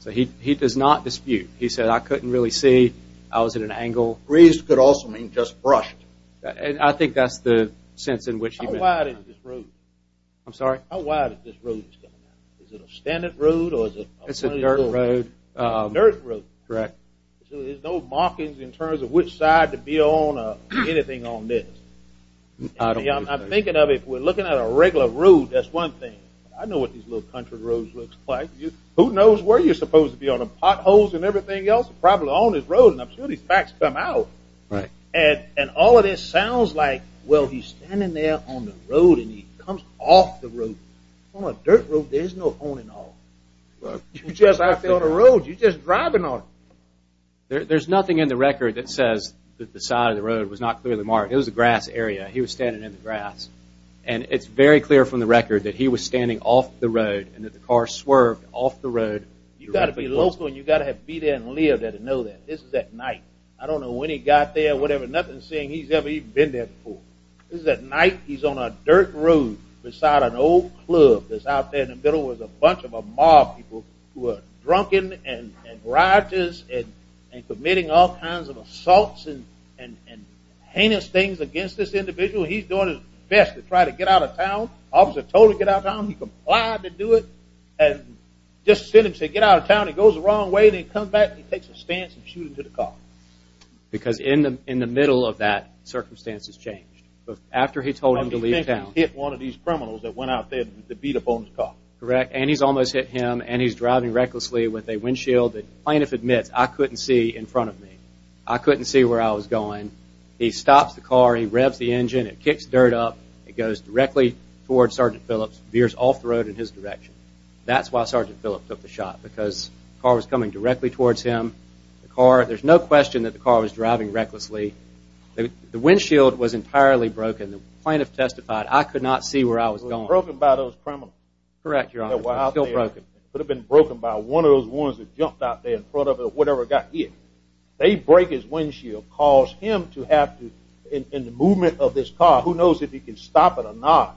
So he does not dispute. He said, I couldn't really see. I was at an angle. Breeze could also mean just brushed. And I think that's the sense in which he meant. How wide is this road? I'm sorry? How wide is this road? Is it a standard road or is it a dirt road? It's a dirt road. A dirt road. Correct. So there's no markings in terms of which side to be on or anything on this. I'm thinking of it. If we're looking at a regular road, that's one thing. I know what these little country roads look like. Who knows where you're supposed to be on them? Potholes and everything else are probably on this road, and I'm sure these facts come out. And all of this sounds like, well, he's standing there on the road and he comes off the road. On a dirt road, there's no honing off. You're just out there on the road. You're just driving on it. There's nothing in the record that says that the side of the road was not clearly marked. It was a grass area. He was standing in the grass. And it's very clear from the record that he was standing off the road and that the car swerved off the road. You've got to be local and you've got to be there and live there to know that. This is at night. I don't know when he got there or whatever. Nothing saying he's ever even been there before. This is at night. He's on a dirt road beside an old club that's out there in the middle with a bunch of mob people who are drunken and riotous and committing all kinds of assaults and heinous things against this individual. He's doing his best to try to get out of town. The officer told him to get out of town. He complied to do it and just sent him to get out of town. He goes the wrong way. They come back. He takes a stance and shoots him to the car. Because in the middle of that, circumstances changed. After he told him to leave town. He hit one of these criminals that went out there with the beat-up on his car. Correct. And he's almost hit him. And he's driving recklessly with a windshield. The plaintiff admits, I couldn't see in front of me. I couldn't see where I was going. He stops the car. He revs the engine. It kicks dirt up. It goes directly towards Sergeant Phillips. Veers off the road in his direction. That's why Sergeant Phillips took the shot. Because the car was coming directly towards him. There's no question that the car was driving recklessly. The windshield was entirely broken. The plaintiff testified, I could not see where I was going. It was broken by those criminals. Correct, Your Honor. It was still broken. It could have been broken by one of those ones that jumped out there in front of whatever got hit. They break his windshield, cause him to have to, in the movement of this car, who knows if he can stop it or not.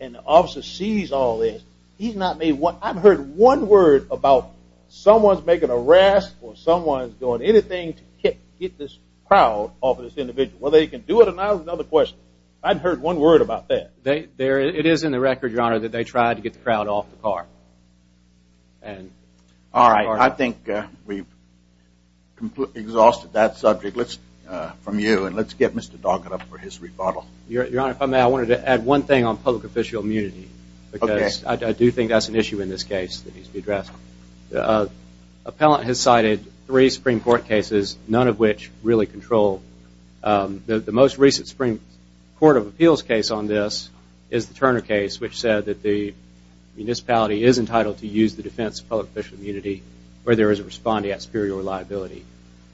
And the officer sees all this. He's not made one. I've heard one word about someone's making a rest or someone's doing anything to get this crowd off this individual. Whether he can do it or not is another question. I've heard one word about that. It is in the record, Your Honor, that they tried to get the crowd off the car. All right. I think we've completely exhausted that subject from you. And let's get Mr. Doggett up for his rebuttal. Your Honor, if I may, I wanted to add one thing on public official immunity. Because I do think that's an issue in this case that needs to be addressed. The appellant has cited three Supreme Court cases, none of which really control. The most recent Supreme Court of Appeals case on this is the Turner case, which said that the municipality is entitled to use the defense of public official immunity where there is a respondee at superior liability.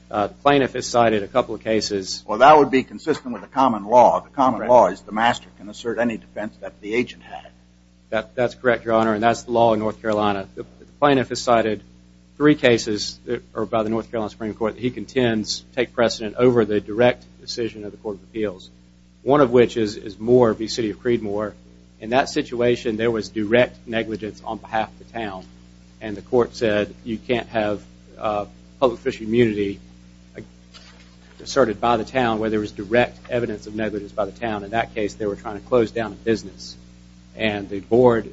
The plaintiff has cited a couple of cases. Well, that would be consistent with the common law. The common law is the master can assert any defense that the agent had. That's correct, Your Honor, and that's the law in North Carolina. The plaintiff has cited three cases by the North Carolina Supreme Court that he contends take precedent over the direct decision of the Court of Appeals, one of which is Moore v. City of Creedmoor. In that situation, there was direct negligence on behalf of the town, and the court said you can't have public official immunity asserted by the town where there was direct evidence of negligence by the town. In that case, they were trying to close down a business, and the board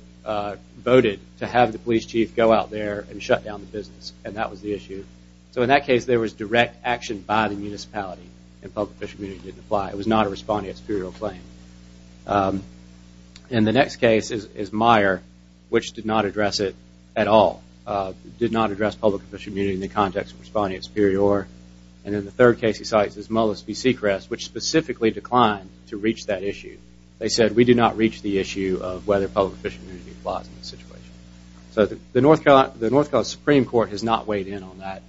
voted to have the police chief go out there and shut down the business, and that was the issue. So in that case, there was direct action by the municipality, and public official immunity didn't apply. It was not a respondeat superior claim. And the next case is Meyer, which did not address it at all, did not address public official immunity in the context of respondeat superior. And then the third case he cites is Mullis v. Seacrest, which specifically declined to reach that issue. They said we did not reach the issue of whether public official immunity applies in this situation. So the North Carolina Supreme Court has not weighed in on that.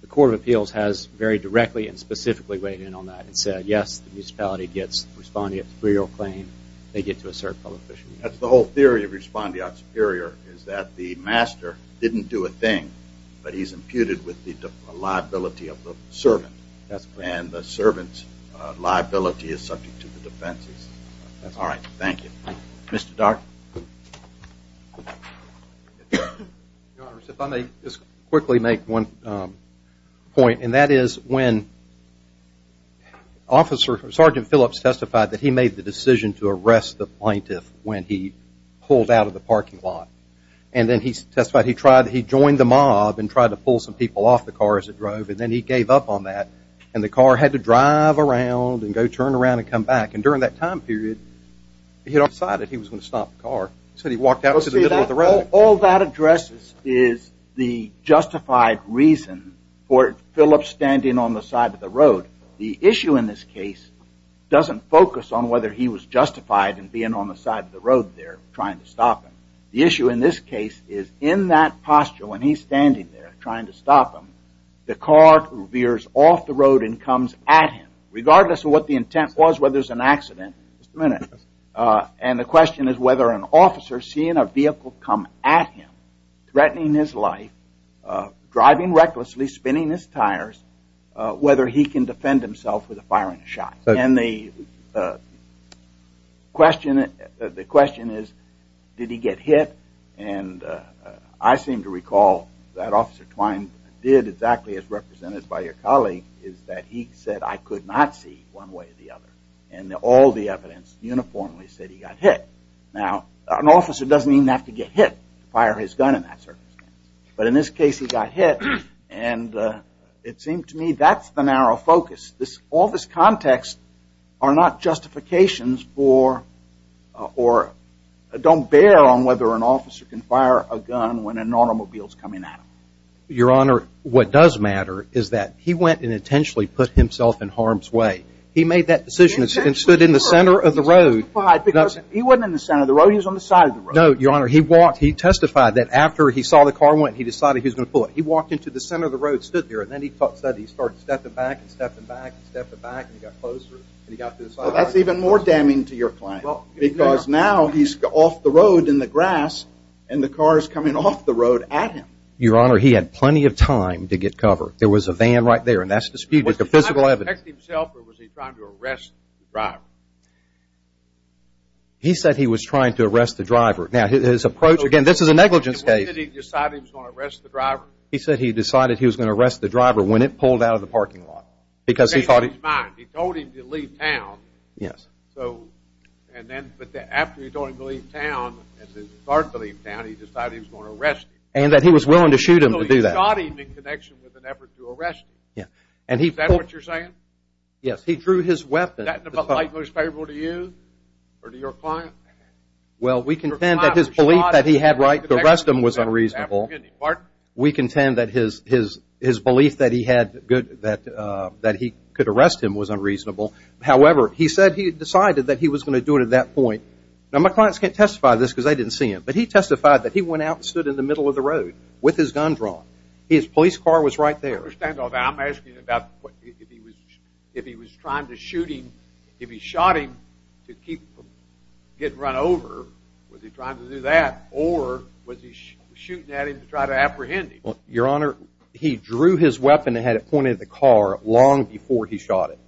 The Court of Appeals has very directly and specifically weighed in on that and said yes, the municipality gets respondeat superior claim, they get to assert public official immunity. That's the whole theory of respondeat superior is that the master didn't do a thing, but he's imputed with the liability of the servant, and the servant's liability is subject to the defense. All right, thank you. Mr. Dart? Your Honor, if I may just quickly make one point, and that is when Sergeant Phillips testified that he made the decision to arrest the plaintiff when he pulled out of the parking lot. And then he testified he joined the mob and tried to pull some people off the car as it drove, and then he gave up on that, and the car had to drive around and go turn around and come back. And during that time period, he had decided he was going to stop the car. All that addresses is the justified reason for Phillips standing on the side of the road. The issue in this case doesn't focus on whether he was justified in being on the side of the road there trying to stop him. The issue in this case is in that posture when he's standing there trying to stop him, the car veers off the road and comes at him. Regardless of what the intent was, whether it's an accident, and the question is whether an officer seeing a vehicle come at him, threatening his life, driving recklessly, spinning his tires, whether he can defend himself with a firing shot. And the question is, did he get hit? And I seem to recall that Officer Twine did exactly as represented by your colleague, is that he said, I could not see one way or the other. And all the evidence uniformly said he got hit. Now, an officer doesn't even have to get hit to fire his gun in that circumstance. But in this case, he got hit, and it seemed to me that's the narrow focus. All this context are not justifications for, or don't bear on whether an officer can fire a gun when an automobile is coming at him. Your Honor, what does matter is that he went and intentionally put himself in harm's way. He made that decision and stood in the center of the road. He testified because he wasn't in the center of the road, he was on the side of the road. No, Your Honor, he testified that after he saw the car went, he decided he was going to pull it. He walked into the center of the road, stood there, and then he started stepping back and stepping back and stepping back, and he got closer, and he got to the side of the road. Well, that's even more damning to your client. Because now he's off the road in the grass, and the car is coming off the road at him. Your Honor, he had plenty of time to get cover. There was a van right there, and that's disputed with the physical evidence. Was he trying to protect himself, or was he trying to arrest the driver? He said he was trying to arrest the driver. Now, his approach, again, this is a negligence case. He said he decided he was going to arrest the driver. He said he decided he was going to arrest the driver when it pulled out of the parking lot. Because he thought it was mine. He told him to leave town. Yes. So, and then, but after he told him to leave town, and then he started to leave town, he decided he was going to arrest him. And that he was willing to shoot him to do that. So he shot him in connection with an effort to arrest him. Yeah. Is that what you're saying? Yes. He drew his weapon. Was that in the light of what was favorable to you or to your client? Well, we contend that his belief that he had the right to arrest him was unreasonable. Pardon? We contend that his belief that he could arrest him was unreasonable. However, he said he had decided that he was going to do it at that point. Now, my clients can't testify to this because they didn't see him. But he testified that he went out and stood in the middle of the road with his gun drawn. His police car was right there. I understand all that. I'm asking about if he was trying to shoot him. If he shot him to keep from getting run over, was he trying to do that? Or was he shooting at him to try to apprehend him? Well, Your Honor, he drew his weapon and had it pointed at the car long before he shot it.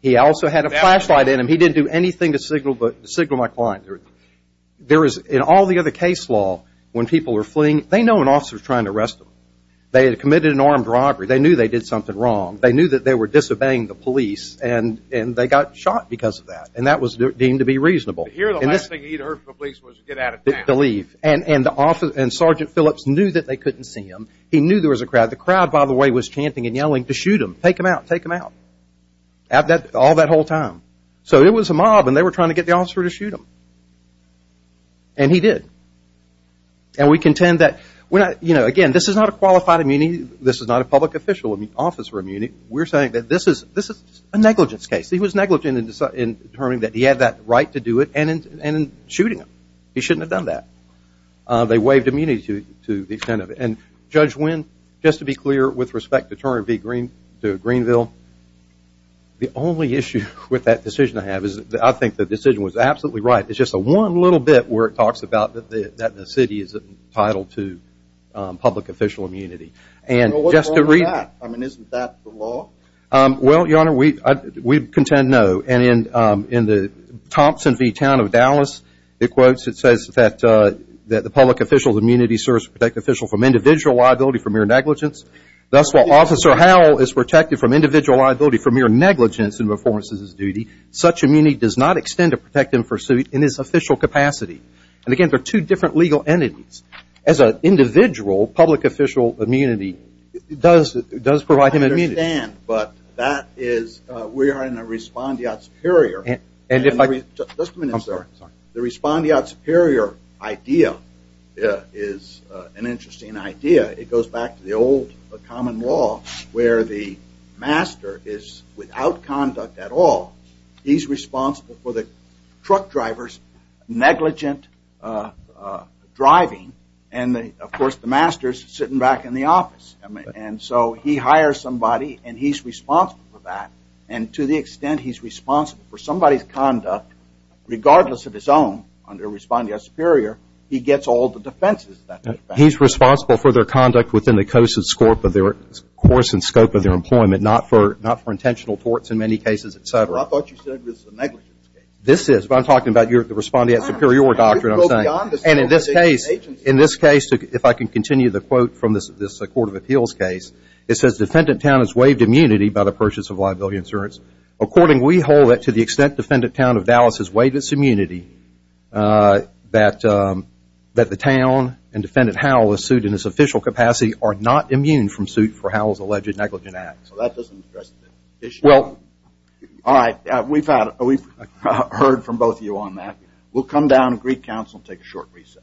He also had a flashlight in him. He didn't do anything to signal my client. There is, in all the other case law, when people are fleeing, they know an officer is trying to arrest them. They had committed an armed robbery. They knew they did something wrong. They knew that they were disobeying the police, and they got shot because of that. And that was deemed to be reasonable. Here the last thing he'd heard from the police was to get out of town. To leave. And Sergeant Phillips knew that they couldn't see him. He knew there was a crowd. The crowd, by the way, was chanting and yelling to shoot him. Take him out. Take him out. All that whole time. So it was a mob, and they were trying to get the officer to shoot him. And he did. And we contend that, again, this is not a qualified immunity. This is not a public official officer immunity. We're saying that this is a negligence case. He was negligent in determining that he had that right to do it and in shooting him. He shouldn't have done that. They waived immunity to the extent of it. And Judge Wynn, just to be clear, with respect to Turner v. Greenville, the only issue with that decision I have is that I think the decision was absolutely right. It's just the one little bit where it talks about that the city is entitled to public official immunity. Well, what's wrong with that? I mean, isn't that the law? Well, Your Honor, we contend no. And in the Thompson v. Town of Dallas, it quotes, it says that the public official's immunity serves to protect the official from individual liability for mere negligence. Thus, while Officer Howell is protected from individual liability for mere negligence in the performance of his duty, such immunity does not extend to protect him for suit in his official capacity. And, again, there are two different legal entities. As an individual, public official immunity does provide him immunity. I understand, but that is we are in a respondeat superior. And if I could just – Just a minute, sir. The respondeat superior idea is an interesting idea. It goes back to the old common law where the master is without conduct at all. He's responsible for the truck driver's negligent driving. And, of course, the master is sitting back in the office. And so he hires somebody, and he's responsible for that. And to the extent he's responsible for somebody's conduct, regardless of his own, under respondeat superior, he gets all the defenses. He's responsible for their conduct within the course and scope of their employment, not for intentional torts in many cases, et cetera. I thought you said it was a negligence case. This is. I'm talking about the respondeat superior doctrine, I'm saying. And in this case, if I can continue the quote from this Court of Appeals case, it says, defendant town is waived immunity by the purchase of liability insurance. According, we hold that to the extent defendant town of Dallas is waived its immunity, that the town and defendant Howell is sued in its official capacity are not immune from suit for Howell's alleged negligent acts. Well, that doesn't address the issue. All right. We've heard from both of you on that. We'll come down to Greek Council and take a short recess.